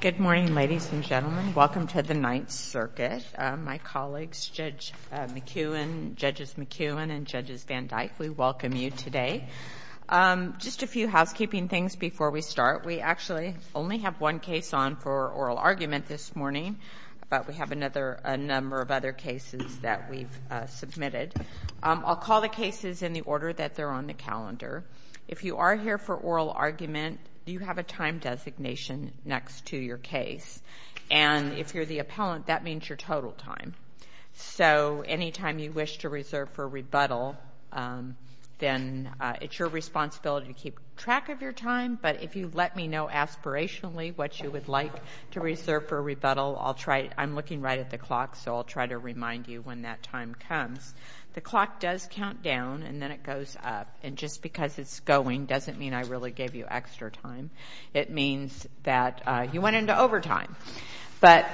Good morning, ladies and gentlemen. Welcome to the Ninth Circuit. My colleagues, Judge McEwen, Judges McEwen and Judges Van Dyke, we welcome you today. Just a few housekeeping things before we start. We actually only have one case on for oral argument this morning, but we have another a number of other cases that we've submitted. I'll call the cases in the order that they're on the next to your case. And if you're the appellant, that means your total time. So anytime you wish to reserve for rebuttal, then it's your responsibility to keep track of your time. But if you let me know aspirationally what you would like to reserve for rebuttal, I'm looking right at the clock, so I'll try to remind you when that time comes. The clock does count down, and then it goes up. And just because it's going doesn't mean I really gave you extra time. It means that you went into overtime. But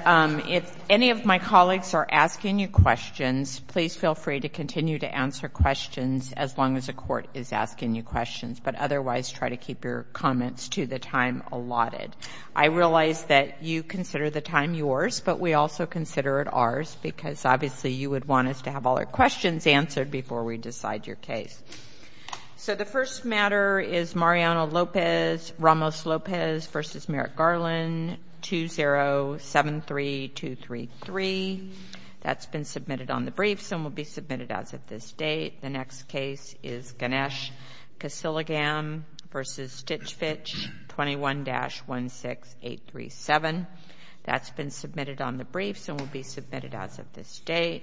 if any of my colleagues are asking you questions, please feel free to continue to answer questions as long as the court is asking you questions. But otherwise, try to keep your comments to the time allotted. I realize that you consider the time yours, but we also consider it ours, because obviously you would want us to have all our questions answered before we decide your case. So the first matter is Mariano Lopez, Ramos Lopez v. Merrick Garland, 2073233. That's been submitted on the briefs and will be submitted as of this date. The next case is Ganesh Kasilagam v. Stichvich, 21-16837. That's been submitted on the briefs and will be submitted as of this date.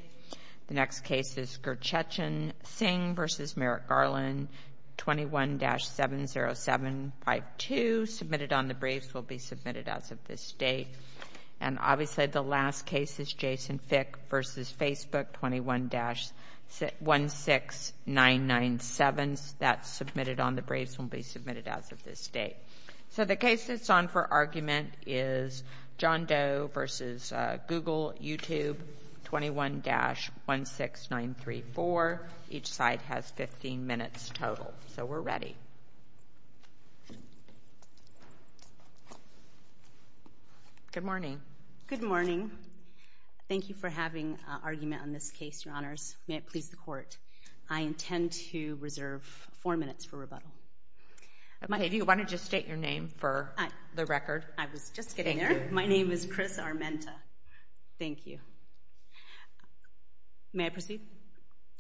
The next case is Gurchechin Singh v. Merrick Garland, 21-70752. Submitted on the briefs will be submitted as of this date. And obviously the last case is Jason Fick v. Facebook, 21-16997. That's submitted on the briefs and will be submitted as of this date. So the case that's on for argument is John Doe v. Google YouTube, 21-16934. Each side has 15 minutes total. So we're ready. Good morning. Good morning. Thank you for having an argument on this case, Your Honors. May it please the Court. I intend to reserve four minutes for rebuttal. If you want to just state your name for the record. I was just getting there. My name is Chris Armenta. Thank you. May I proceed?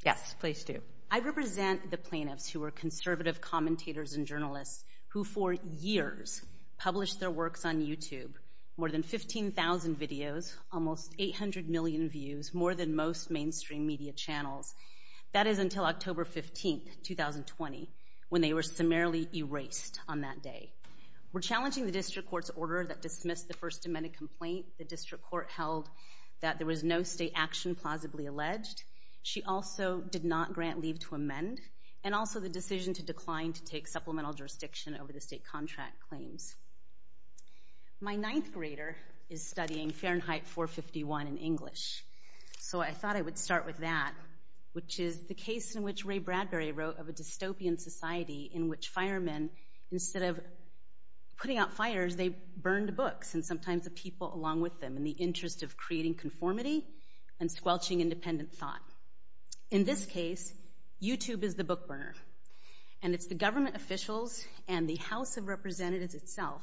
Yes, please do. I represent the plaintiffs who are conservative commentators and journalists who for years published their works on YouTube. More than 15,000 videos, almost 800 million views, more than most mainstream media channels. That is until October 15, 2020, when they were summarily erased on that day. We're challenging the district court's order that dismissed the first amended complaint. The district court held that there was no state action plausibly alleged. She also did not grant leave to amend and also the decision to decline to take supplemental jurisdiction over the state contract claims. My ninth grader is studying Fahrenheit 451 in English. So I thought I would start with that, which is the case in which Ray Bradbury wrote of a Instead of putting out fires, they burned books and sometimes the people along with them in the interest of creating conformity and squelching independent thought. In this case, YouTube is the book burner. And it's the government officials and the House of Representatives itself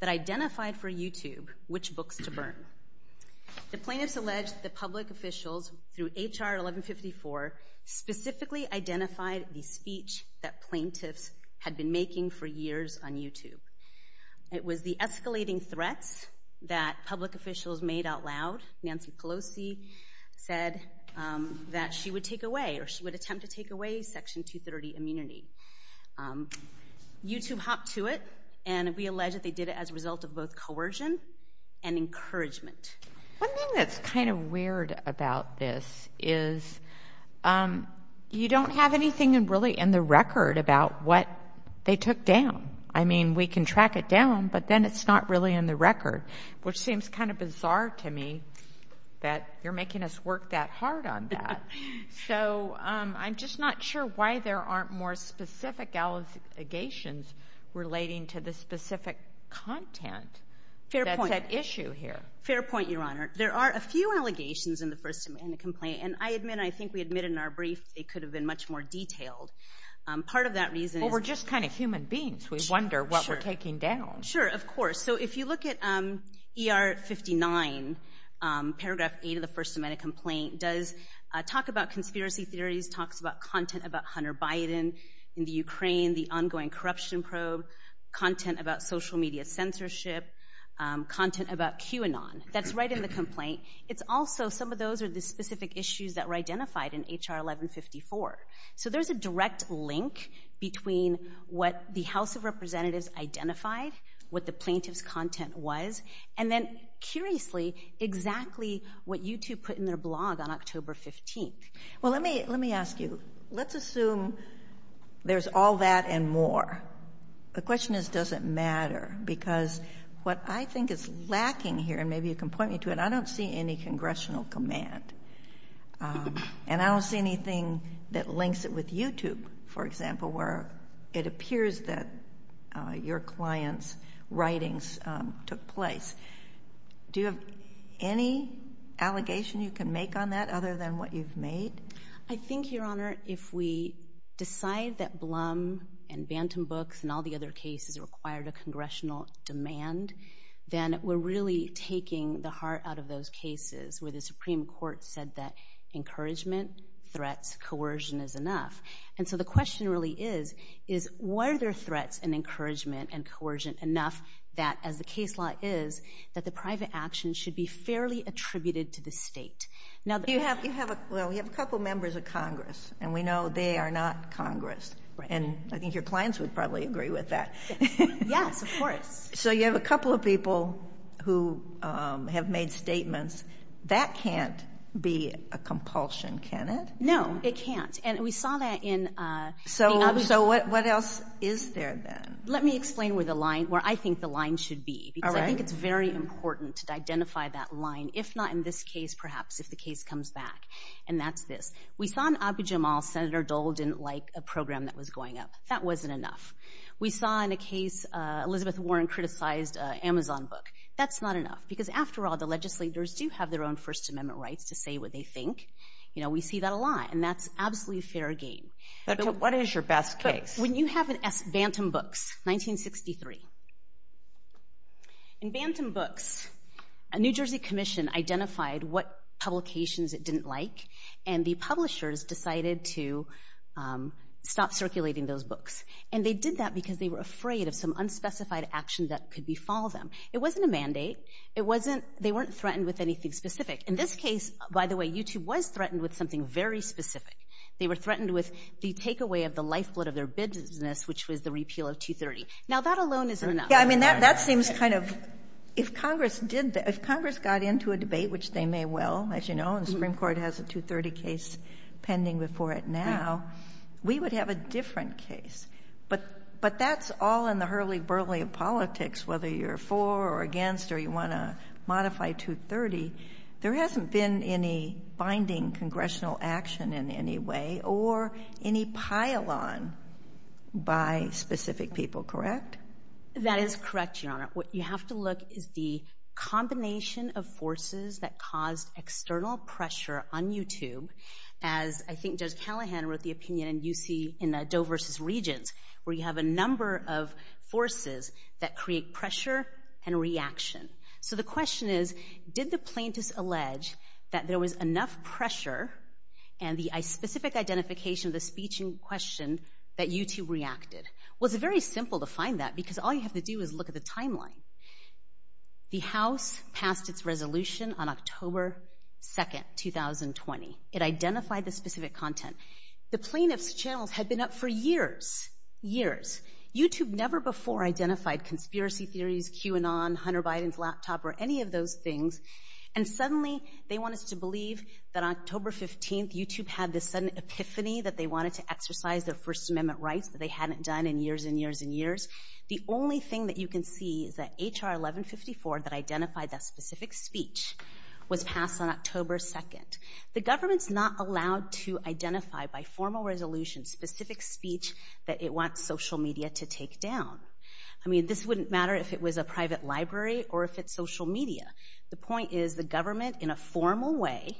that identified for YouTube which books to burn. The plaintiffs alleged the public officials through for years on YouTube. It was the escalating threats that public officials made out loud. Nancy Pelosi said that she would take away or she would attempt to take away Section 230 immunity. YouTube hopped to it and we allege that they did it as a result of both coercion and encouragement. One thing that's kind of weird about this is you don't have anything really in the record about what they took down. I mean, we can track it down, but then it's not really in the record, which seems kind of bizarre to me that you're making us work that hard on that. So I'm just not sure why there aren't more specific allegations relating to the specific content. Fair point. That's at issue here. Fair point, Your Honor. There are a few allegations in the first amendment complaint. And I admit, I think we admitted in our brief, they could have been much more detailed. Part of that reason is- Well, we're just kind of human beings. We wonder what we're taking down. Sure, of course. So if you look at ER 59, paragraph eight of the first amendment complaint, does talk about conspiracy theories, talks about content about Hunter Biden in the Ukraine, the ongoing corruption probe, content about social media censorship, content about QAnon. That's right in the complaint. It's also some of those are the specific issues that were identified in HR 1154. So there's a direct link between what the House of Representatives identified, what the plaintiff's content was, and then, curiously, exactly what you two put in their blog on October 15th. Well, let me ask you. Let's assume there's all that and more. The question is, does it matter? Because what I think is lacking here, maybe you can point me to it, I don't see any congressional command. And I don't see anything that links it with YouTube, for example, where it appears that your client's writings took place. Do you have any allegation you can make on that other than what you've made? I think, Your Honor, if we decide that Blum and Bantam Books and all the other cases required a congressional demand, then we're really taking the heart out of those cases where the Supreme Court said that encouragement, threats, coercion is enough. And so the question really is, were there threats and encouragement and coercion enough that, as the case law is, that the private action should be fairly attributed to the state? Well, we have a couple members of Congress, and we know they are not Congress. And I think your So you have a couple of people who have made statements. That can't be a compulsion, can it? No, it can't. And we saw that in... So what else is there then? Let me explain where the line, where I think the line should be, because I think it's very important to identify that line, if not in this case, perhaps if the case comes back. And that's this. We saw in Abiy Jamal, Senator Dole didn't like a program that was going up. That wasn't enough. We saw in a case, Elizabeth Warren criticized an Amazon book. That's not enough, because after all, the legislators do have their own First Amendment rights to say what they think. We see that a lot, and that's absolutely fair game. What is your best case? When you have Bantam Books, 1963. In Bantam Books, a New Jersey commission identified what publications it didn't like, and the publishers decided to stop circulating those books. And they did that because they were afraid of some unspecified action that could befall them. It wasn't a mandate. They weren't threatened with anything specific. In this case, by the way, YouTube was threatened with something very specific. They were threatened with the takeaway of the lifeblood of their business, which was the repeal of 230. Now, that alone isn't enough. Yeah, I mean, that seems kind of... If Congress got into a debate, which they may well, as you know, and the Supreme Court has a 230 case pending before it now, we would have a different case. But that's all in the hurly-burly of politics, whether you're for or against or you want to modify 230. There hasn't been any binding congressional action in any way or any pile-on by specific people, correct? That is correct, Your Honor. What you have to look is the combination of forces that caused external pressure on YouTube, as I think Judge Callahan wrote the opinion in the Doe versus Regents, where you have a number of forces that create pressure and reaction. So the question is, did the plaintiffs allege that there was enough pressure and the specific identification of the speech in question that YouTube reacted? Well, it's very simple to find that because all you passed its resolution on October 2nd, 2020. It identified the specific content. The plaintiff's channels had been up for years, years. YouTube never before identified conspiracy theories, QAnon, Hunter Biden's laptop, or any of those things. And suddenly, they want us to believe that on October 15th, YouTube had this sudden epiphany that they wanted to exercise their First Amendment rights that they hadn't done in years and years and years. The only thing that you can see is that H.R. 1154 that identified that specific speech was passed on October 2nd. The government's not allowed to identify by formal resolution specific speech that it wants social media to take down. I mean, this wouldn't matter if it was a private library or if it's social media. The point is, the government, in a formal way,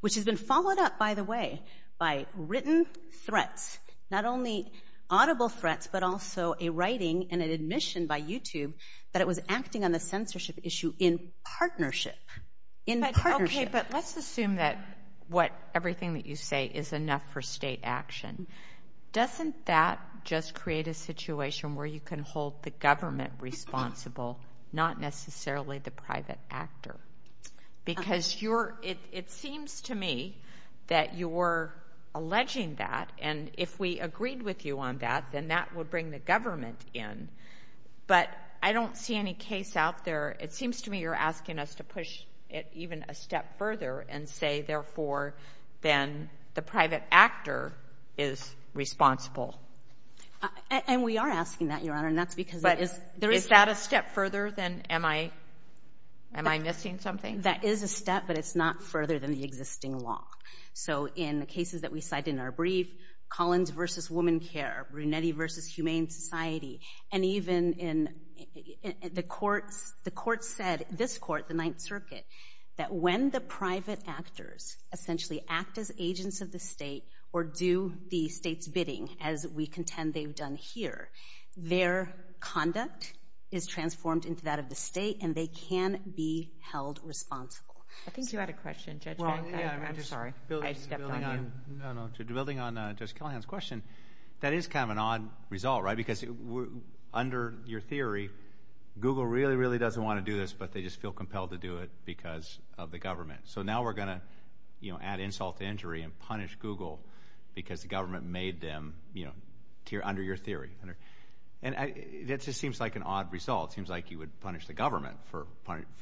which has been followed up, by the way, by written threats, not only audible threats, but also a writing and an admission by YouTube that it was acting on the censorship issue in partnership. In partnership. Okay, but let's assume that what everything that you say is enough for state action. Doesn't that just create a situation where you can hold the government responsible, not necessarily the private actor? Because you're, it seems to me that you're alleging that, and if we agreed with you on that, then that would bring the government in. But I don't see any case out there. It seems to me you're asking us to push it even a step further and say, therefore, then the private actor is responsible. And we are asking that, Your Honor, and that's because... But is that a step further than, am I missing something? That is a step, but it's not further than the existing law. So in the cases that we cite in our brief, Collins versus Woman Care, Brunetti versus Humane Society, and even in the courts, the courts said, this court, the Ninth Circuit, that when the private actors essentially act as agents of the state or do the state's bidding, as we contend they've done here, their conduct is transformed into that of the state, and they can be held responsible. I think you had a question, Judge. I'm sorry. Building on Judge Callahan's question, that is kind of an odd result, right? Because under your theory, Google really, really doesn't want to do this, but they just feel compelled to do it because of the government. So now we're going to, you know, add insult to injury and punish Google because the government made them, you know, under your theory. And that just seems like an odd result. It seems like you would punish the government for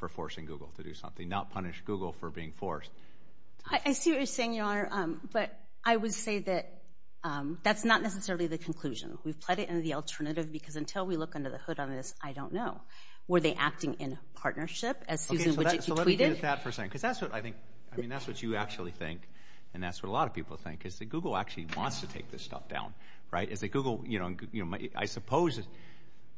forcing Google to do something, not punish Google for being forced. I see what you're saying, Your Honor, but I would say that that's not necessarily the conclusion. We've played it into the alternative because until we look under the hood on this, I don't know. Were they acting in partnership, as Susan Widgett, you tweeted? Because that's what I think, I mean, that's what you actually think, and that's what a lot of people think, is that Google actually wants to take this stuff down, right? Is that Google, you know, I suppose the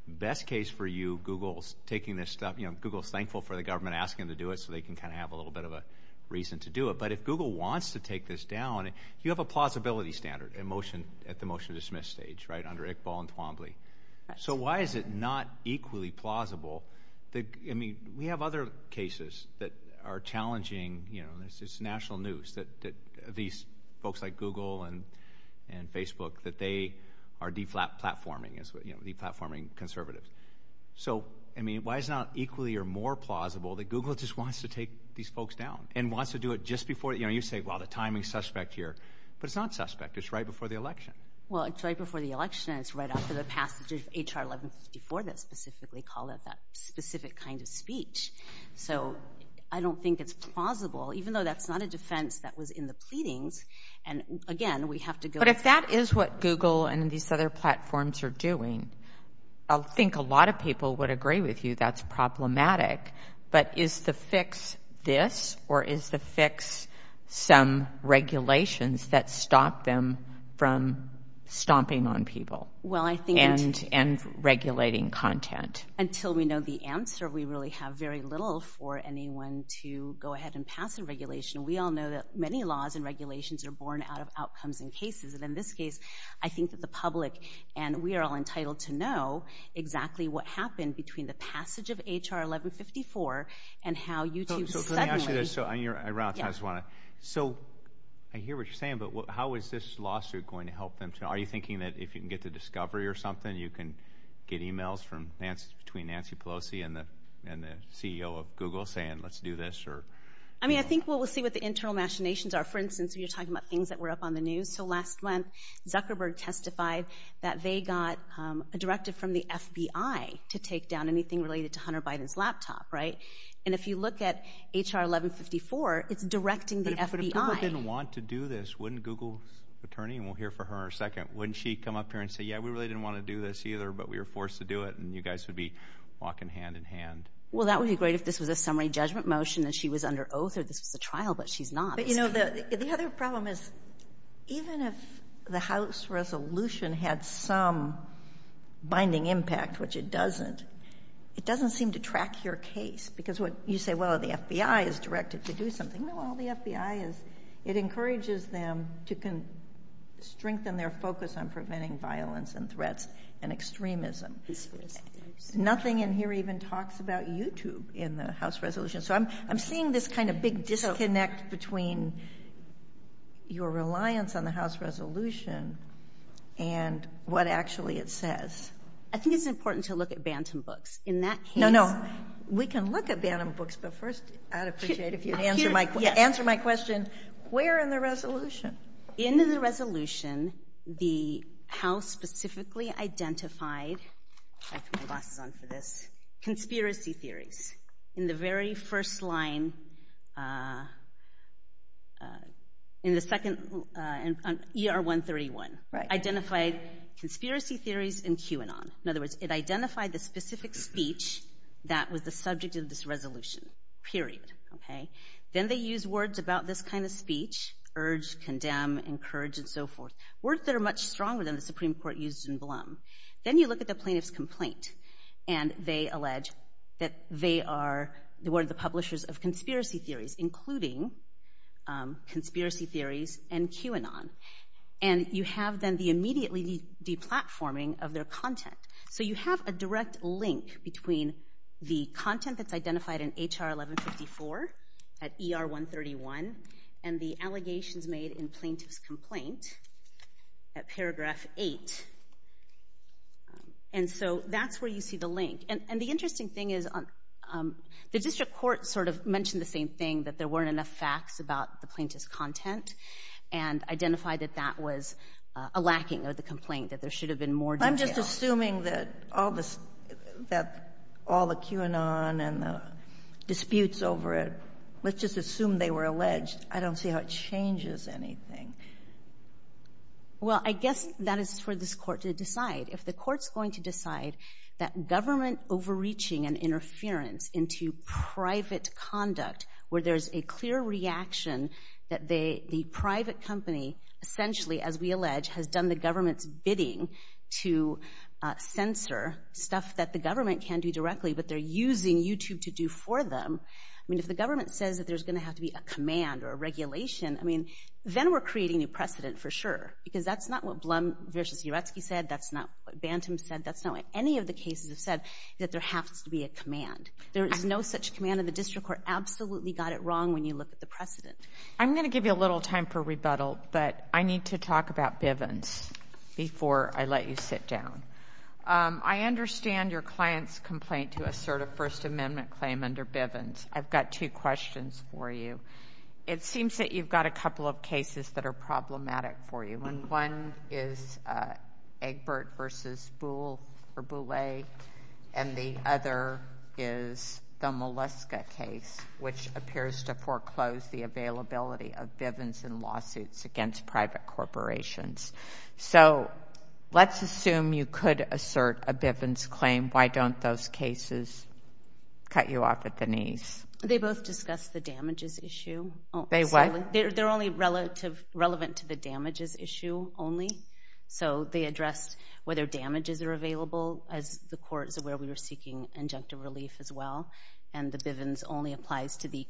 best case for you, Google's taking this stuff, you know, Google's thankful for the government asking them to do it so they can kind of have a little bit of a reason to do it. But if Google wants to take this down, you have a plausibility standard at the motion to dismiss stage, right, under Iqbal and Twombly. So why is it not equally plausible that, I mean, we have other cases that are challenging, you know, it's national news that these folks like platforming, you know, platforming conservatives. So, I mean, why is it not equally or more plausible that Google just wants to take these folks down and wants to do it just before, you know, you say, well, the timing's suspect here. But it's not suspect, it's right before the election. Well, it's right before the election and it's right after the passage of H.R. 1154 that specifically called out that specific kind of speech. So I don't think it's plausible, even though that's not a defense that was in the pleadings. And again, we have to go- But if that is what Google and these other platforms are doing, I think a lot of people would agree with you that's problematic. But is the fix this or is the fix some regulations that stop them from stomping on people and regulating content? Until we know the answer, we really have very little for anyone to go ahead and pass a regulation. We all know that many laws and regulations are born out of outcomes and cases. And in this case, I think that the public and we are all entitled to know exactly what happened between the passage of H.R. 1154 and how YouTube suddenly- So let me ask you this. So I hear what you're saying, but how is this lawsuit going to help them? Are you thinking that if you can get the discovery or something, you can get emails from Nancy, between Nancy Pelosi and the CEO of Google saying, let's do this or- I mean, I think we'll see what the internal machinations are. For instance, when you're talking about things that were up on the news. So last month, Zuckerberg testified that they got a directive from the FBI to take down anything related to Hunter Biden's laptop, right? And if you look at H.R. 1154, it's directing the FBI- But if Google didn't want to do this, wouldn't Google's attorney, and we'll hear from her in a second, wouldn't she come up here and say, yeah, we really didn't want to do this either, but we were forced to do it and you guys would be walking hand in hand. Well, that would be great if this was a summary judgment motion and she was under oath or this was a trial, but she's not. But you know, the other problem is even if the House resolution had some binding impact, which it doesn't, it doesn't seem to track your case because what you say, well, the FBI is directed to do something. No, all the FBI is. It encourages them to strengthen their focus on preventing violence and threats and extremism. Nothing in here even talks about YouTube in the House resolution. So I'm seeing this kind of big disconnect between your reliance on the House resolution and what actually it says. I think it's important to look at Bantam books. In that case- No, no. We can look at Bantam books, but first I'd appreciate if you'd answer my question. Where in the resolution? In the resolution, the House specifically identified, I put my glasses on for this, conspiracy theories in the very first line, in the second, ER 131. Right. Identified conspiracy theories in QAnon. In other words, it identified the specific speech that was the subject of this resolution, period. Then they used words about this kind of speech, urge, condemn, encourage, and so forth. Words that are much stronger than the Supreme Court used in Blum. Then you look at the plaintiff's complaint, and they allege that they are the word of the publishers of conspiracy theories, including conspiracy theories and QAnon. And you have then the immediately de-platforming of their content. So you have a direct link between the content that's identified in HR 1154 at ER 131 and the allegations made in plaintiff's complaint at paragraph 8. And so that's where you see the link. And the interesting thing is the district court sort of mentioned the same thing, that there weren't enough facts about the plaintiff's content, and identified that that was a lacking of the all the QAnon and the disputes over it. Let's just assume they were alleged. I don't see how it changes anything. Well, I guess that is for this court to decide. If the court's going to decide that government overreaching and interference into private conduct, where there's a clear reaction that the private company essentially, as we allege, has done the government's bidding to censor stuff that the government can do directly, but they're using YouTube to do for them. I mean, if the government says that there's going to have to be a command or a regulation, I mean, then we're creating a precedent for sure. Because that's not what Blum versus Uretsky said. That's not what Bantam said. That's not what any of the cases have said, that there has to be a command. There is no such command in the district court. Absolutely got it wrong when you look at the precedent. I'm going to give you a little time for rebuttal, but I need to talk about Bivens before I let you sit down. I understand your client's complaint to assert a First Amendment claim under Bivens. I've got two questions for you. It seems that you've got a couple of cases that are problematic for you, and one is Egbert versus Buhle, and the other is the Moleska case, which appears to foreclose the availability of Bivens in lawsuits against private corporations. So let's assume you could assert a Bivens claim. Why don't those cases cut you off at the knees? They both discussed the damages issue. They what? They're only relevant to the damages issue only. So they addressed whether damages are available, as the court is aware we were seeking injunctive relief as well, and the Bivens only applies to the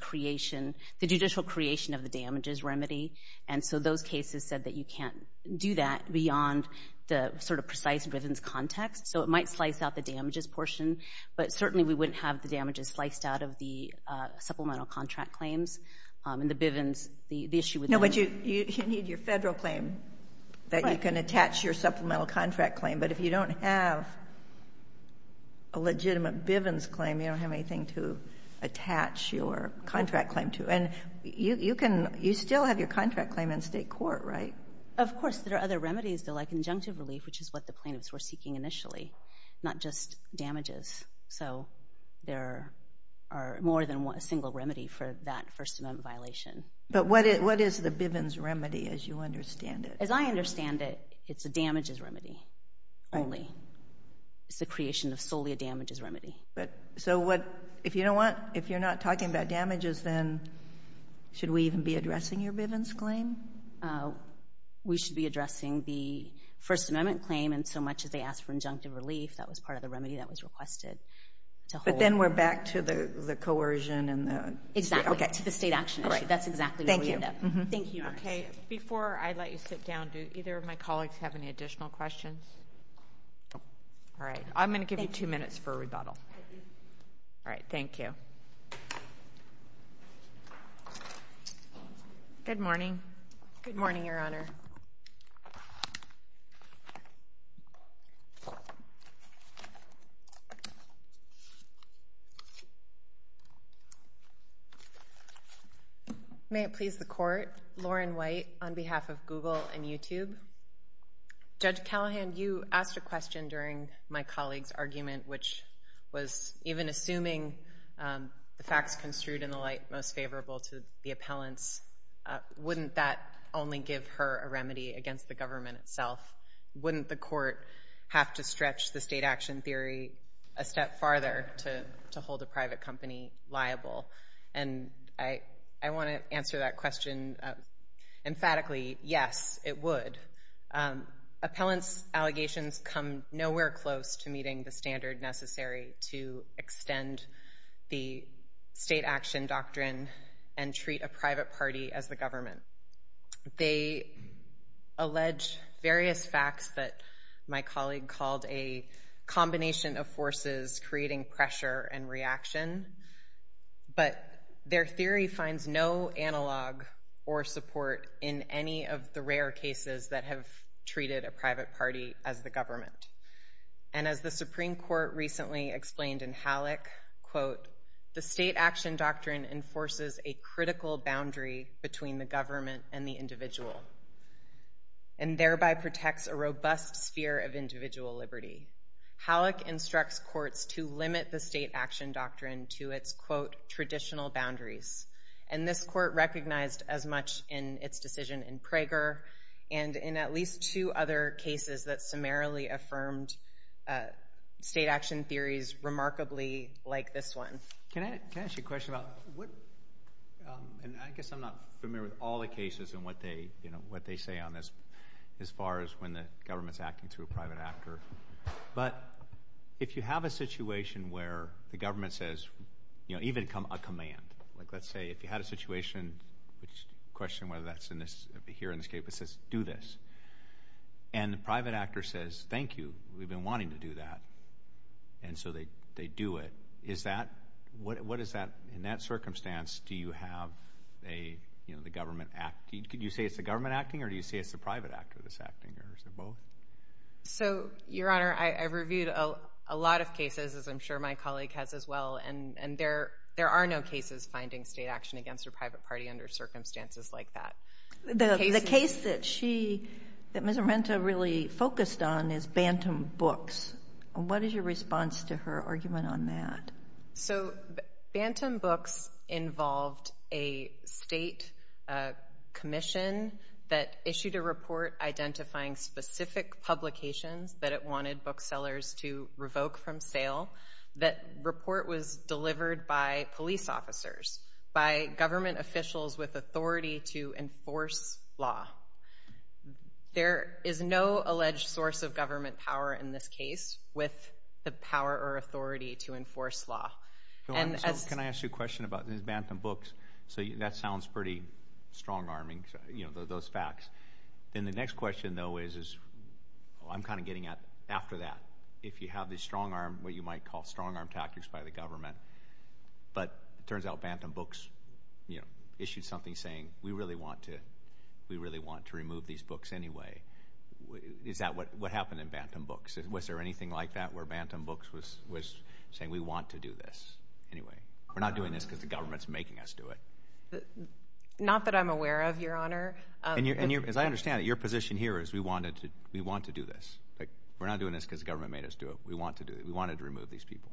judicial creation of the damages remedy, and so those cases said that you can't do that beyond the sort of precise Bivens context. So it might slice out the damages portion, but certainly we wouldn't have the damages sliced out of the supplemental contract claims and the Bivens, the issue with them. No, but you need your Federal claim that you can attach your supplemental contract claim, but if you don't have a legitimate Bivens claim, you don't have anything to attach your contract claim to, and you can, you still have your contract claim in state court, right? Of course. There are other remedies, though, like injunctive relief, which is what the plaintiffs were seeking initially, not just damages. So there are more than one single remedy for that First Amendment violation. But what is the Bivens remedy, as you understand it? As I understand it, it's a damages remedy only. It's the creation of solely a damages remedy. But, so what, if you don't want, if you're not talking about damages, then should we even be addressing your Bivens claim? We should be addressing the First Amendment claim, and so much as they asked for injunctive relief, that was part of the remedy that was requested to hold. But then we're back to the coercion and the... Exactly, to the state action issue. That's exactly where we end up. Thank you. Okay. Before I let you sit down, do either of my colleagues have any additional questions? All right. I'm going to give you two minutes for a rebuttal. All right. Thank you. Good morning. Good morning, Your Honor. May it please the Court, Lauren White, on behalf of Google and YouTube. Judge Callahan, you asked a question during my colleague's argument, which was even assuming the facts construed in the light most favorable to the appellants. I'm not sure that that's the case. I'm not sure that that's a remedy against the government itself. Wouldn't the court have to stretch the state action theory a step farther to hold a private company liable? And I want to answer that question emphatically. Yes, it would. Appellants' allegations come nowhere close to meeting the standard necessary to extend the state action doctrine and treat a private party as the government. They allege various facts that my colleague called a combination of forces creating pressure and reaction, but their theory finds no analog or support in any of the rare cases that have treated a private party as the government. And as the Supreme Court recently explained in Halleck, quote, the state action doctrine enforces a critical boundary between the government and the individual and thereby protects a robust sphere of individual liberty. Halleck instructs courts to limit the state action doctrine to its, quote, traditional boundaries. And this court recognized as much in its decision in Prager and in at least two other cases that summarily affirmed state action theories remarkably like this one. Can I ask you a question about what, and I guess I'm not familiar with all the cases and what they, you know, what they say on this as far as when the government's acting through a private actor. But if you have a situation where the government says, you know, even a command, like let's say if you had a situation, which question whether that's in this, here in this case, but says, do this, and the private actor says, thank you, we've been wanting to do that, and so they do it. Is that, what is that, in that circumstance, do you have a, you know, the government acting, could you say it's the government acting, or do you say it's the private actor that's acting, or is it both? So, Your Honor, I've reviewed a lot of cases, as I'm sure my colleague has as well, and there are no cases finding state action against a private party under circumstances like that. The case that she, that Ms. Amenta really focused on is Bantam Books. What is your response to her argument on that? So, Bantam Books involved a state commission that issued a report identifying specific publications that it wanted booksellers to revoke from sale. That report was delivered by police officers, by government officials with authority to enforce law. There is no alleged source of government power in this case with the power or authority to enforce law, and as— So, can I ask you a question about this Bantam Books? So, that sounds pretty strong-arming, you know, those facts. Then the next question, though, is, I'm kind of getting at, after that, if you have this strong-arm, what you might call strong-arm tactics by the government, but it turns out Bantam Books, you know, issued something saying, we really want to, we really want to remove these books anyway. Is that what happened in Bantam Books? Was there anything like that where Bantam Books was saying, we want to do this anyway? We're not doing this because the government's making us do it. Not that I'm aware of, Your Honor. As I understand it, your position here is, we want to do this. We're not doing this because the government made us do it. We want to do it. We wanted to remove these people.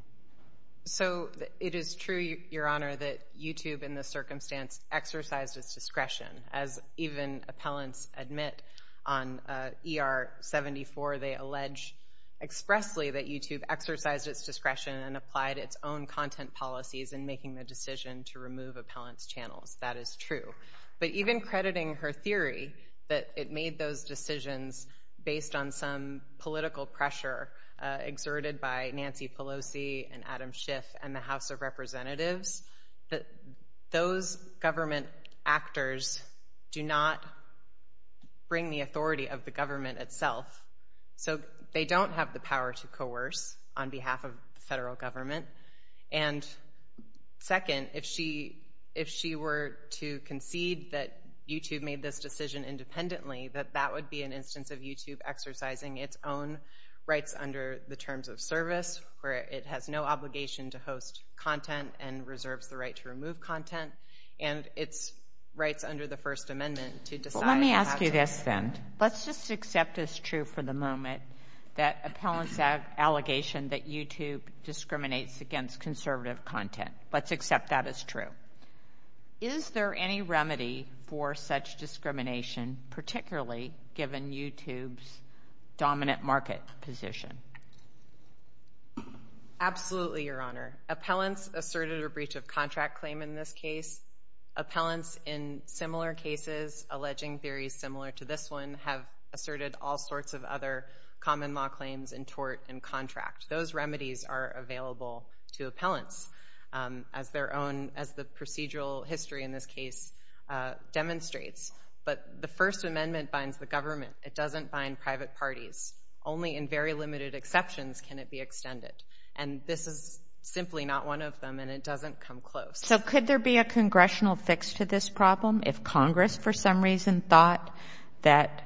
So, it is true, Your Honor, that YouTube, in this circumstance, exercised its discretion, as even appellants admit on ER-74, they allege expressly that YouTube exercised its discretion and applied its own content policies in making the decision to remove appellants' channels. That is true. But even crediting her theory that it made those decisions based on some political pressure exerted by Nancy Pelosi and Adam Schiff and the House of Representatives, that those government actors do not bring the authority of the government itself. So, they don't have the power to coerce on behalf of the federal government. And second, if she were to concede that YouTube made this decision independently, that that would be an instance of YouTube exercising its own rights under the terms of service, where it has no obligation to host content and reserves the right to remove content. And it's rights under the First Amendment to decide. Well, let me ask you this, then. Let's just accept as true for the moment that appellants have an allegation that YouTube discriminates against conservative content. Let's accept that as true. Is there any remedy for such discrimination, particularly given YouTube's dominant market position? Absolutely, Your Honor. Appellants asserted a breach of contract claim in this case. Appellants in similar cases alleging theories similar to this one have asserted all sorts of other common law claims in tort and contract. Those remedies are available to appellants as their own, as the procedural history in this case demonstrates. But the First Amendment binds the government. It doesn't bind private parties. Only in very limited exceptions can it be extended. And this is simply not one of them. And it doesn't come close. So could there be a congressional fix to this problem if Congress, for some reason, thought that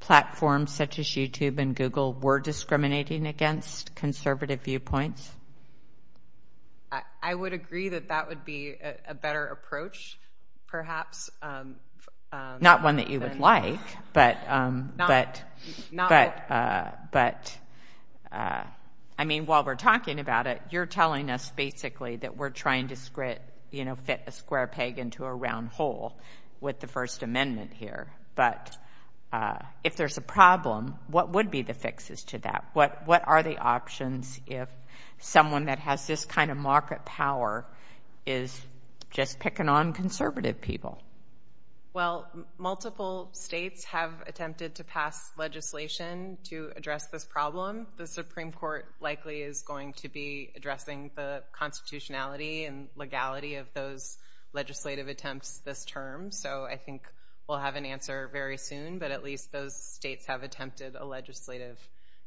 platforms such as YouTube and Google were discriminating against conservative viewpoints? I would agree that that would be a better approach, perhaps. Not one that you would like. But I mean, while we're talking about it, you're telling us basically that we're trying to fit a square peg into a round hole with the First Amendment here. But if there's a problem, what would be the fixes to that? What are the options if someone that has this kind of market power is just picking on conservative people? Well, multiple states have attempted to pass legislation to address this problem. The Supreme Court likely is going to be addressing the constitutionality and legality of those legislative attempts this term. So I think we'll have an answer very soon. But at least those states have attempted a legislative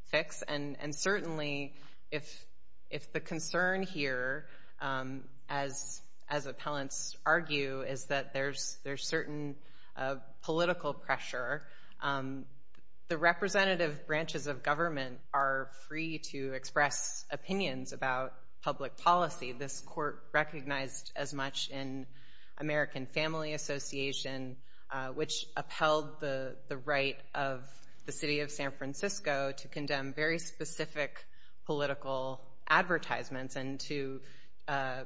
fix. And certainly, if the concern here, as appellants argue, is that there's certain political pressure, the representative branches of government are free to express opinions about public policy. This court recognized as much in American Family Association, which upheld the right of the city of San Francisco to condemn very specific political advertisements and to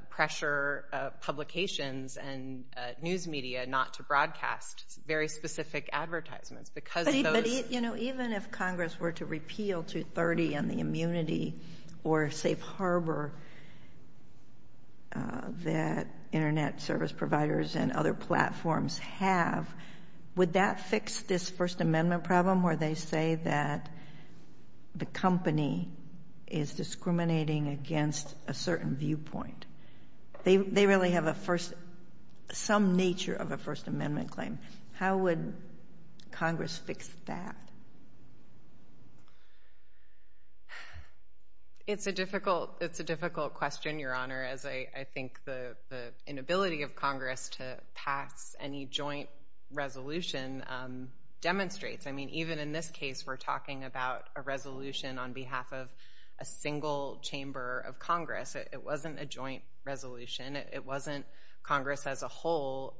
pressure publications and news media not to broadcast very specific advertisements. But even if Congress were to repeal 230 and the immunity or safe harbor that internet service providers and other platforms have, would that fix this First Amendment problem where they say that the company is discriminating against a certain viewpoint? They really have some nature of a First Amendment claim. How would Congress fix that? It's a difficult question, Your Honor, as I think the inability of Congress to pass any joint resolution demonstrates. I mean, even in this case, we're talking about a resolution on behalf of a single chamber of Congress. It wasn't a joint resolution. It wasn't Congress as a whole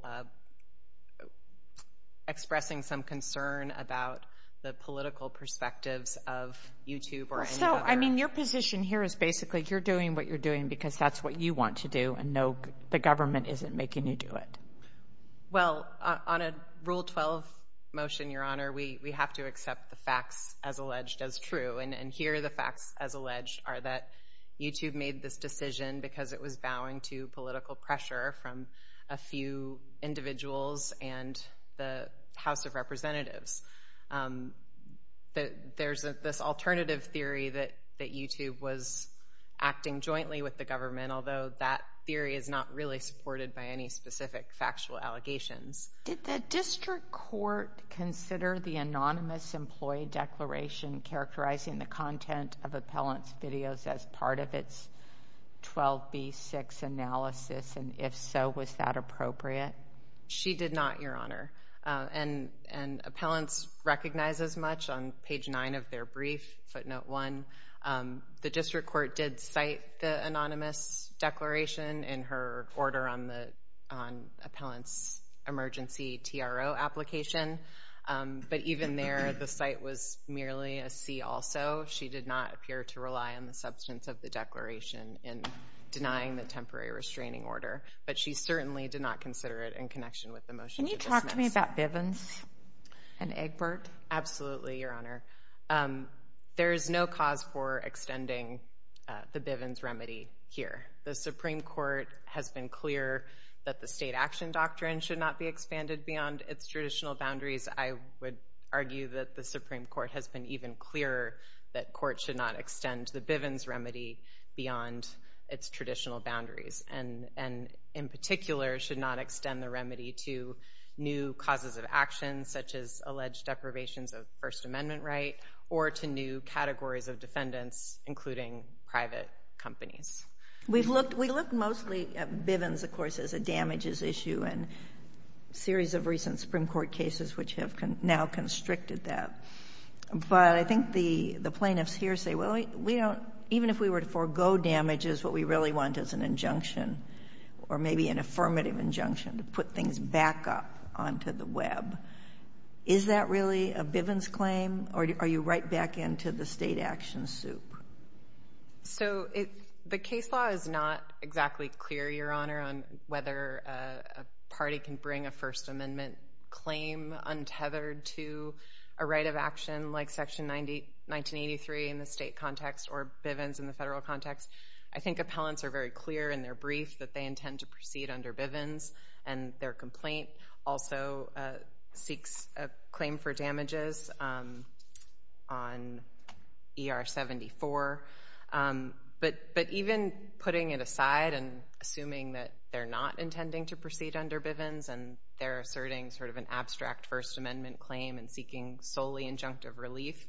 expressing some concern about the political perspectives of YouTube or any other. I mean, your position here is basically you're doing what you're doing because that's what you want to do, and no, the government isn't making you do it. Well, on a Rule 12 motion, Your Honor, we have to accept the facts as alleged as true. And here, the facts as alleged are that YouTube made this decision because it was vowing to reduce political pressure from a few individuals and the House of Representatives. There's this alternative theory that YouTube was acting jointly with the government, although that theory is not really supported by any specific factual allegations. Did the district court consider the anonymous employee declaration characterizing the content of appellant's videos as part of its 12B6 analysis, and if so, was that appropriate? She did not, Your Honor, and appellants recognize as much. On page nine of their brief, footnote one, the district court did cite the anonymous declaration in her order on the appellant's emergency TRO application. But even there, the cite was merely a C also. She did not appear to rely on the substance of the declaration in denying the temporary restraining order, but she certainly did not consider it in connection with the motion. Can you talk to me about Bivens and Egbert? Absolutely, Your Honor. There is no cause for extending the Bivens remedy here. The Supreme Court has been clear that the state action doctrine should not be expanded beyond its traditional boundaries. I would argue that the Supreme Court has been even clearer that courts should not extend the Bivens remedy beyond its traditional boundaries, and in particular, should not extend the remedy to new causes of action, such as alleged deprivations of First Amendment right, or to new categories of defendants, including private companies. We look mostly at Bivens, of course, as a damages issue and series of recent Supreme Court cases which have now constricted that. But I think the plaintiffs here say, well, even if we were to forego damages, what we really want is an injunction, or maybe an affirmative injunction to put things back up onto the web. Is that really a Bivens claim, or are you right back into the state action soup? So the case law is not exactly clear, Your Honor, on whether a party can bring a First Amendment claim untethered to a right of action like Section 1983 in the state context or Bivens in the federal context. I think appellants are very clear in their brief that they intend to proceed under Bivens, and their complaint also seeks a claim for damages on ER 74. But even putting it aside and assuming that they're not intending to proceed under Bivens and they're asserting sort of an abstract First Amendment claim and seeking solely injunctive relief,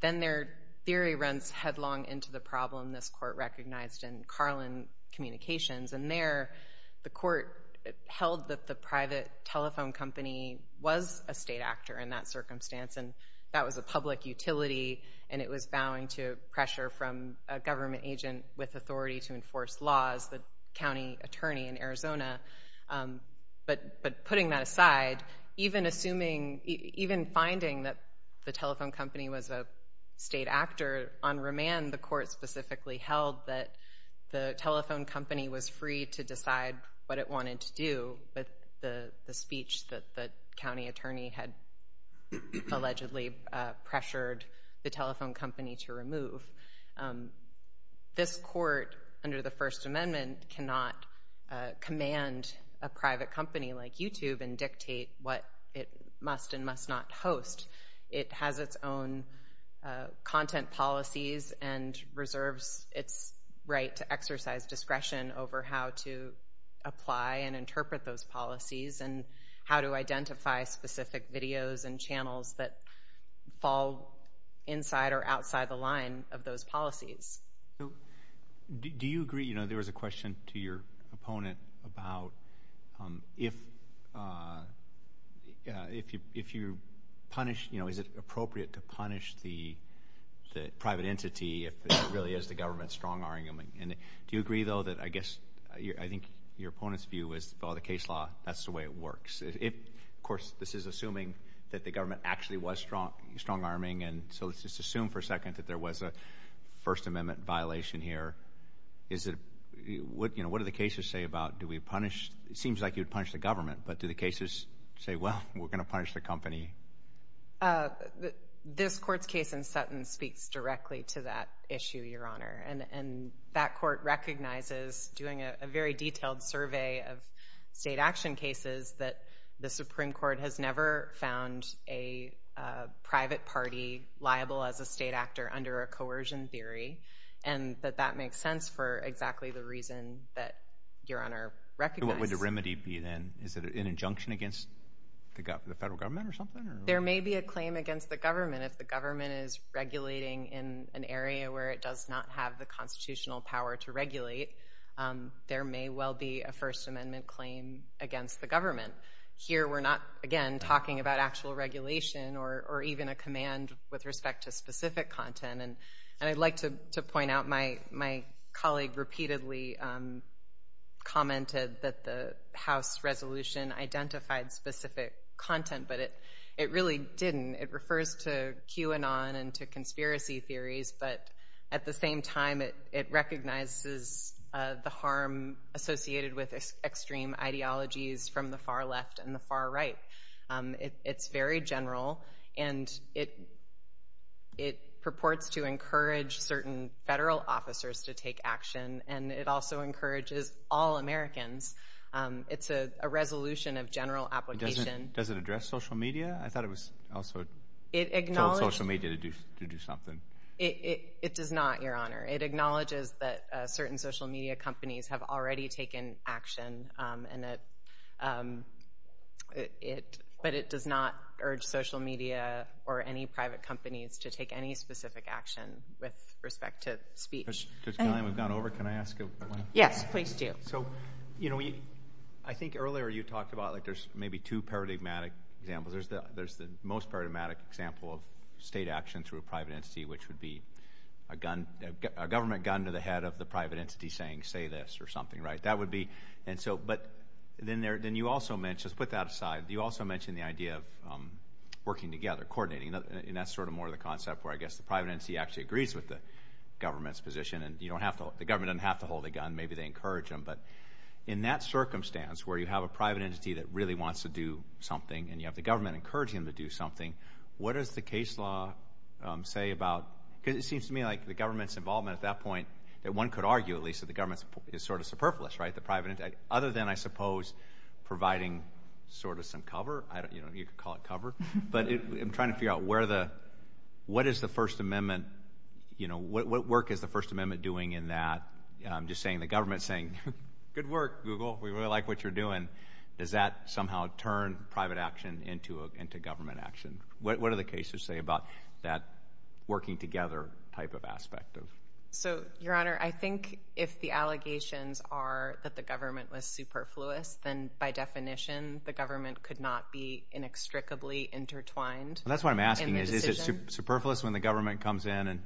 then their theory runs headlong into the problem this Court recognized in Carlin Communications. And there, the Court held that the private telephone company was a state actor in that circumstance, and that was a public utility, and it was vowing to pressure from a government agent with authority to enforce laws, the county attorney in Arizona. But putting that aside, even assuming, even finding that the telephone company was a state actor, on remand, the Court specifically held that the telephone company was free to decide what it wanted to do, but the speech that the county attorney had allegedly pressured the telephone company to remove. This Court, under the First Amendment, cannot command a private company like YouTube and dictate what it must and must not host. It has its own content policies and reserves its right to exercise discretion over how to apply and interpret those policies and how to identify specific videos and channels that fall inside or outside the line of those policies. So, do you agree, you know, there was a question to your opponent about if you punish, you know, is it appropriate to punish the private entity if it really is the government's strong argument? And do you agree, though, that I guess, I think your opponent's view is, well, the case law, that's the way it works. Of course, this is assuming that the government actually was strong-arming, and so let's just assume for a second that there was a First Amendment violation here. Is it, you know, what do the cases say about, do we punish, it seems like you'd punish the government, but do the cases say, well, we're going to punish the company? This Court's case in Sutton speaks directly to that issue, Your Honor, and that Court recognizes, doing a very detailed survey of state action cases, that the Supreme Court has never found a private party liable as a state actor under a coercion theory, and that that makes sense for exactly the reason that Your Honor recognized. What would the remedy be then? Is it an injunction against the federal government or something? There may be a claim against the government if the government is regulating in an area where it does not have the constitutional power to regulate. There may well be a First Amendment claim against the government. Here, we're not, again, talking about actual regulation or even a command with respect to specific content, and I'd like to point out my colleague repeatedly commented that the House resolution identified specific content, but it really didn't. It refers to QAnon and to conspiracy theories, but at the same time, it recognizes the harm associated with extreme ideologies from the far left and the far right. It's very general, and it purports to encourage certain federal officers to take action, and it also encourages all Americans. It's a resolution of general application. Does it address social media? I thought it was also social media to do something. It does not, Your Honor. It acknowledges that certain social media companies have already taken action, but it does not urge social media or any private companies to take any specific action with respect to speech. Judge Connelly, we've gone over. Can I ask a question? Yes, please do. I think earlier you talked about there's maybe two paradigmatic examples. There's the most paradigmatic example of state action through a private entity, which would be a government gun to the head of the private entity saying, say this, or something, right? But then you also mentioned, let's put that aside, you also mentioned the idea of working together, coordinating, and that's sort of more the concept where I guess the private entity actually agrees with the government's position, and the government doesn't have to hold a gun. Maybe they encourage them, but in that circumstance where you have a private entity that really encourages them to do something, what does the case law say about, because it seems to me like the government's involvement at that point, that one could argue at least that the government is sort of superfluous, right? The private entity, other than, I suppose, providing sort of some cover, you could call it cover, but I'm trying to figure out what is the First Amendment, what work is the First Amendment doing in that? I'm just saying the government's saying, good work, Google. We really like what you're doing. Does that somehow turn private action into government action? What do the cases say about that working together type of aspect? So, Your Honor, I think if the allegations are that the government was superfluous, then by definition the government could not be inextricably intertwined in the decision. Well, that's what I'm asking, is it superfluous when the government comes in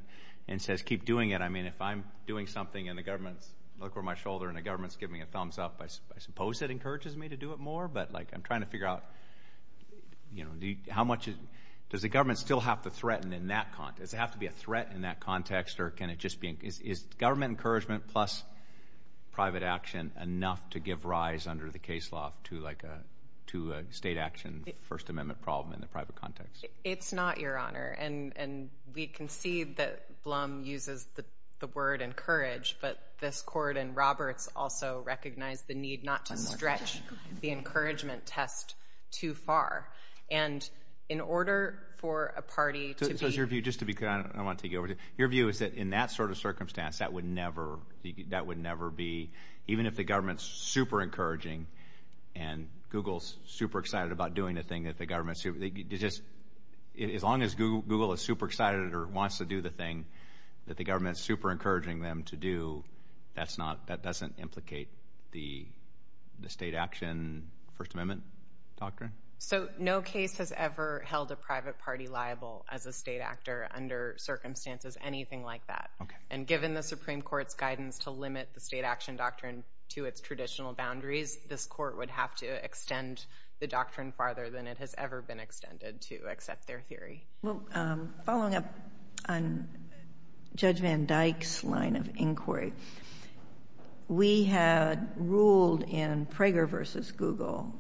and says, keep doing it? I mean, if I'm doing something and the government's, look over my shoulder, and the government's giving a thumbs up, I suppose it encourages me to do it more, but I'm trying to figure out, does the government still have to threaten in that context? Does it have to be a threat in that context, or can it just be, is government encouragement plus private action enough to give rise under the case law to a state action First Amendment problem in the private context? It's not, Your Honor, and we concede that Blum uses the word encourage, but this court in Roberts also recognized the need not to stretch the encouragement test too far. And in order for a party to be- So is your view, just to be clear, I want to take you over to, your view is that in that sort of circumstance, that would never be, even if the government's super encouraging and Google's super excited about doing the thing that the government's, as long as Google is super excited or wants to do the thing that the government's super encouraging them to do, that's not, that doesn't implicate the state action First Amendment doctrine? So no case has ever held a private party liable as a state actor under circumstances, anything like that. And given the Supreme Court's guidance to limit the state action doctrine to its traditional boundaries, this court would have to extend the doctrine farther than it has ever been extended to accept their theory. Well, following up on Judge Van Dyke's line of inquiry, we had ruled in Prager versus Google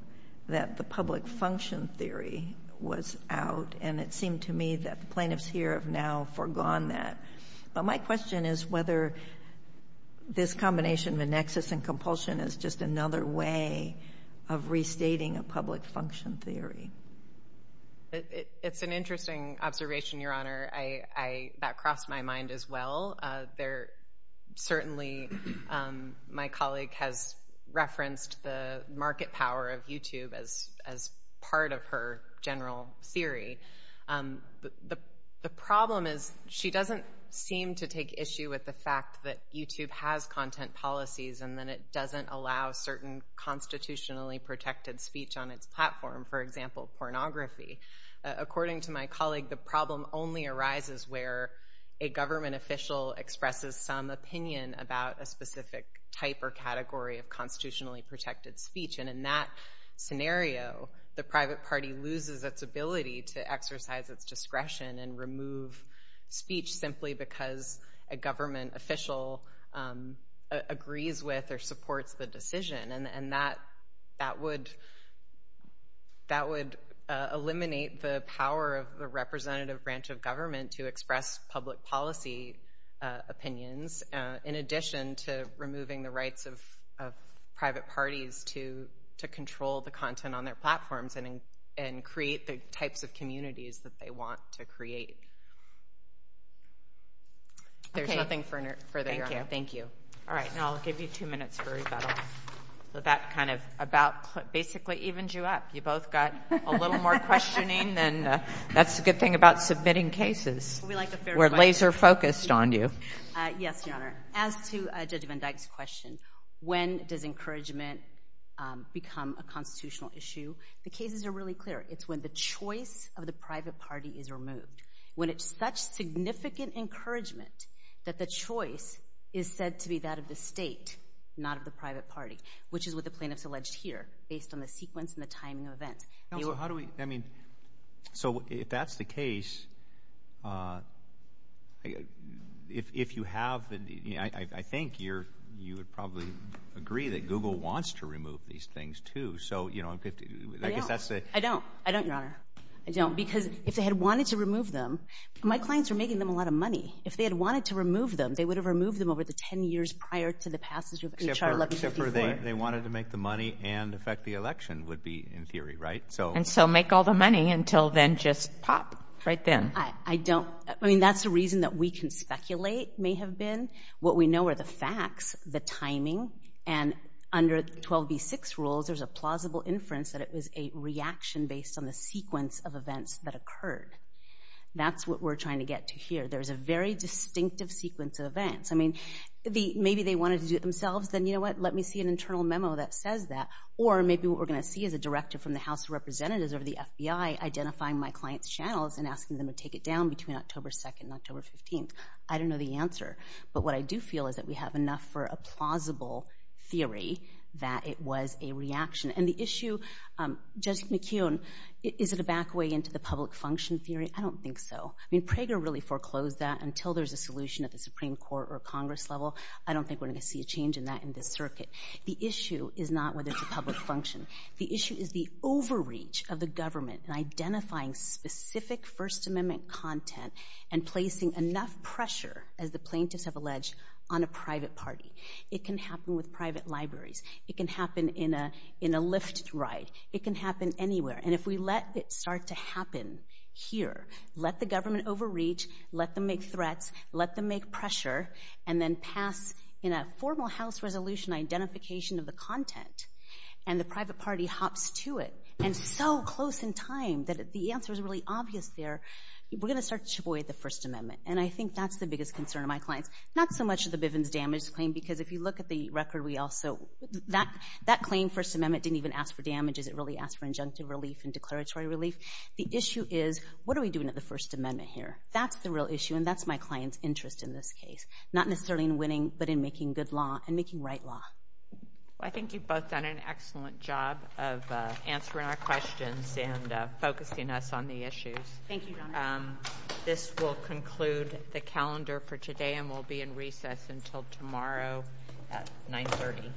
that the public function theory was out, and it seemed to me that the plaintiffs here have now forgone that. But my question is whether this combination of a nexus and compulsion is just another way of restating a public function theory. It's an interesting observation, Your Honor. I, that crossed my mind as well. There, certainly, my colleague has referenced the market power of YouTube as part of her general theory. The problem is she doesn't seem to take issue with the fact that YouTube has content policies and then it doesn't allow certain constitutionally protected speech on its platform. For example, pornography. According to my colleague, the problem only arises where a government official expresses some opinion about a specific type or category of constitutionally protected speech. And in that scenario, the private party loses its ability to exercise its discretion and remove speech simply because a government official agrees with or supports the decision. And that would eliminate the power of the representative branch of government to express public policy opinions in addition to removing the rights of private parties to control the content on their platforms and create the types of communities that they want to create. There's nothing further, Your Honor. Thank you. All right. Now I'll give you two minutes for rebuttal. That kind of about basically evens you up. You both got a little more questioning. Then that's the good thing about submitting cases. We're laser focused on you. Yes, Your Honor. As to Judge Van Dyke's question, when does encouragement become a constitutional issue? The cases are really clear. It's when the choice of the private party is removed. When it's such significant encouragement that the choice is said to be that of the state, not of the private party. Which is what the plaintiff's alleged here, based on the sequence and the timing of events. So if that's the case, I think you would probably agree that Google wants to remove these things too. I don't. I don't, Your Honor. I don't. Because if they had wanted to remove them, my clients are making them a lot of money. If they had wanted to remove them, they would have removed them over the 10 years prior to the passage of H.R. 1154. They wanted to make the money and affect the election would be in theory, right? And so make all the money until then just pop right then. That's the reason that we can speculate may have been. What we know are the facts, the timing. And under 12b-6 rules, there's a plausible inference that it was a reaction based on the sequence of events that occurred. That's what we're trying to get to here. There's a very distinctive sequence of events. Maybe they wanted to do it themselves. Then you know what? Let me see an internal memo that says that. Or maybe what we're going to see is a directive from the House of Representatives or the FBI identifying my client's channels and asking them to take it down between October 2nd and October 15th. I don't know the answer. But what I do feel is that we have enough for a plausible theory that it was a reaction. And the issue, Judge McKeown, is it a back way into the public function theory? I don't think so. I mean, Prager really foreclosed that until there's a solution at the Supreme Court or Congress level. I don't think we're going to see a change in that in this circuit. The issue is not whether it's a public function. The issue is the overreach of the government in identifying specific First Amendment content and placing enough pressure, as the plaintiffs have alleged, on a private party. It can happen with private libraries. It can happen in a Lyft ride. It can happen anywhere. And if we let it start to happen here, let the government overreach, let them make threats, let them make pressure, and then pass in a formal House resolution identification of the content, and the private party hops to it, and so close in time that the answer is really obvious there, we're going to start to avoid the First Amendment. And I think that's the biggest concern of my clients. Not so much of the Bivens Damage Claim, because if you look at the record, that claim, First Amendment, didn't even ask for damages. It really asked for injunctive relief and declaratory relief. The issue is, what are we doing at the First Amendment here? That's the real issue. And that's my client's interest in this case. Not necessarily in winning, but in making good law and making right law. Well, I think you've both done an excellent job of answering our questions and focusing us on the issues. Thank you, Donna. This will conclude the calendar for today, and we'll be in recess until tomorrow at 930.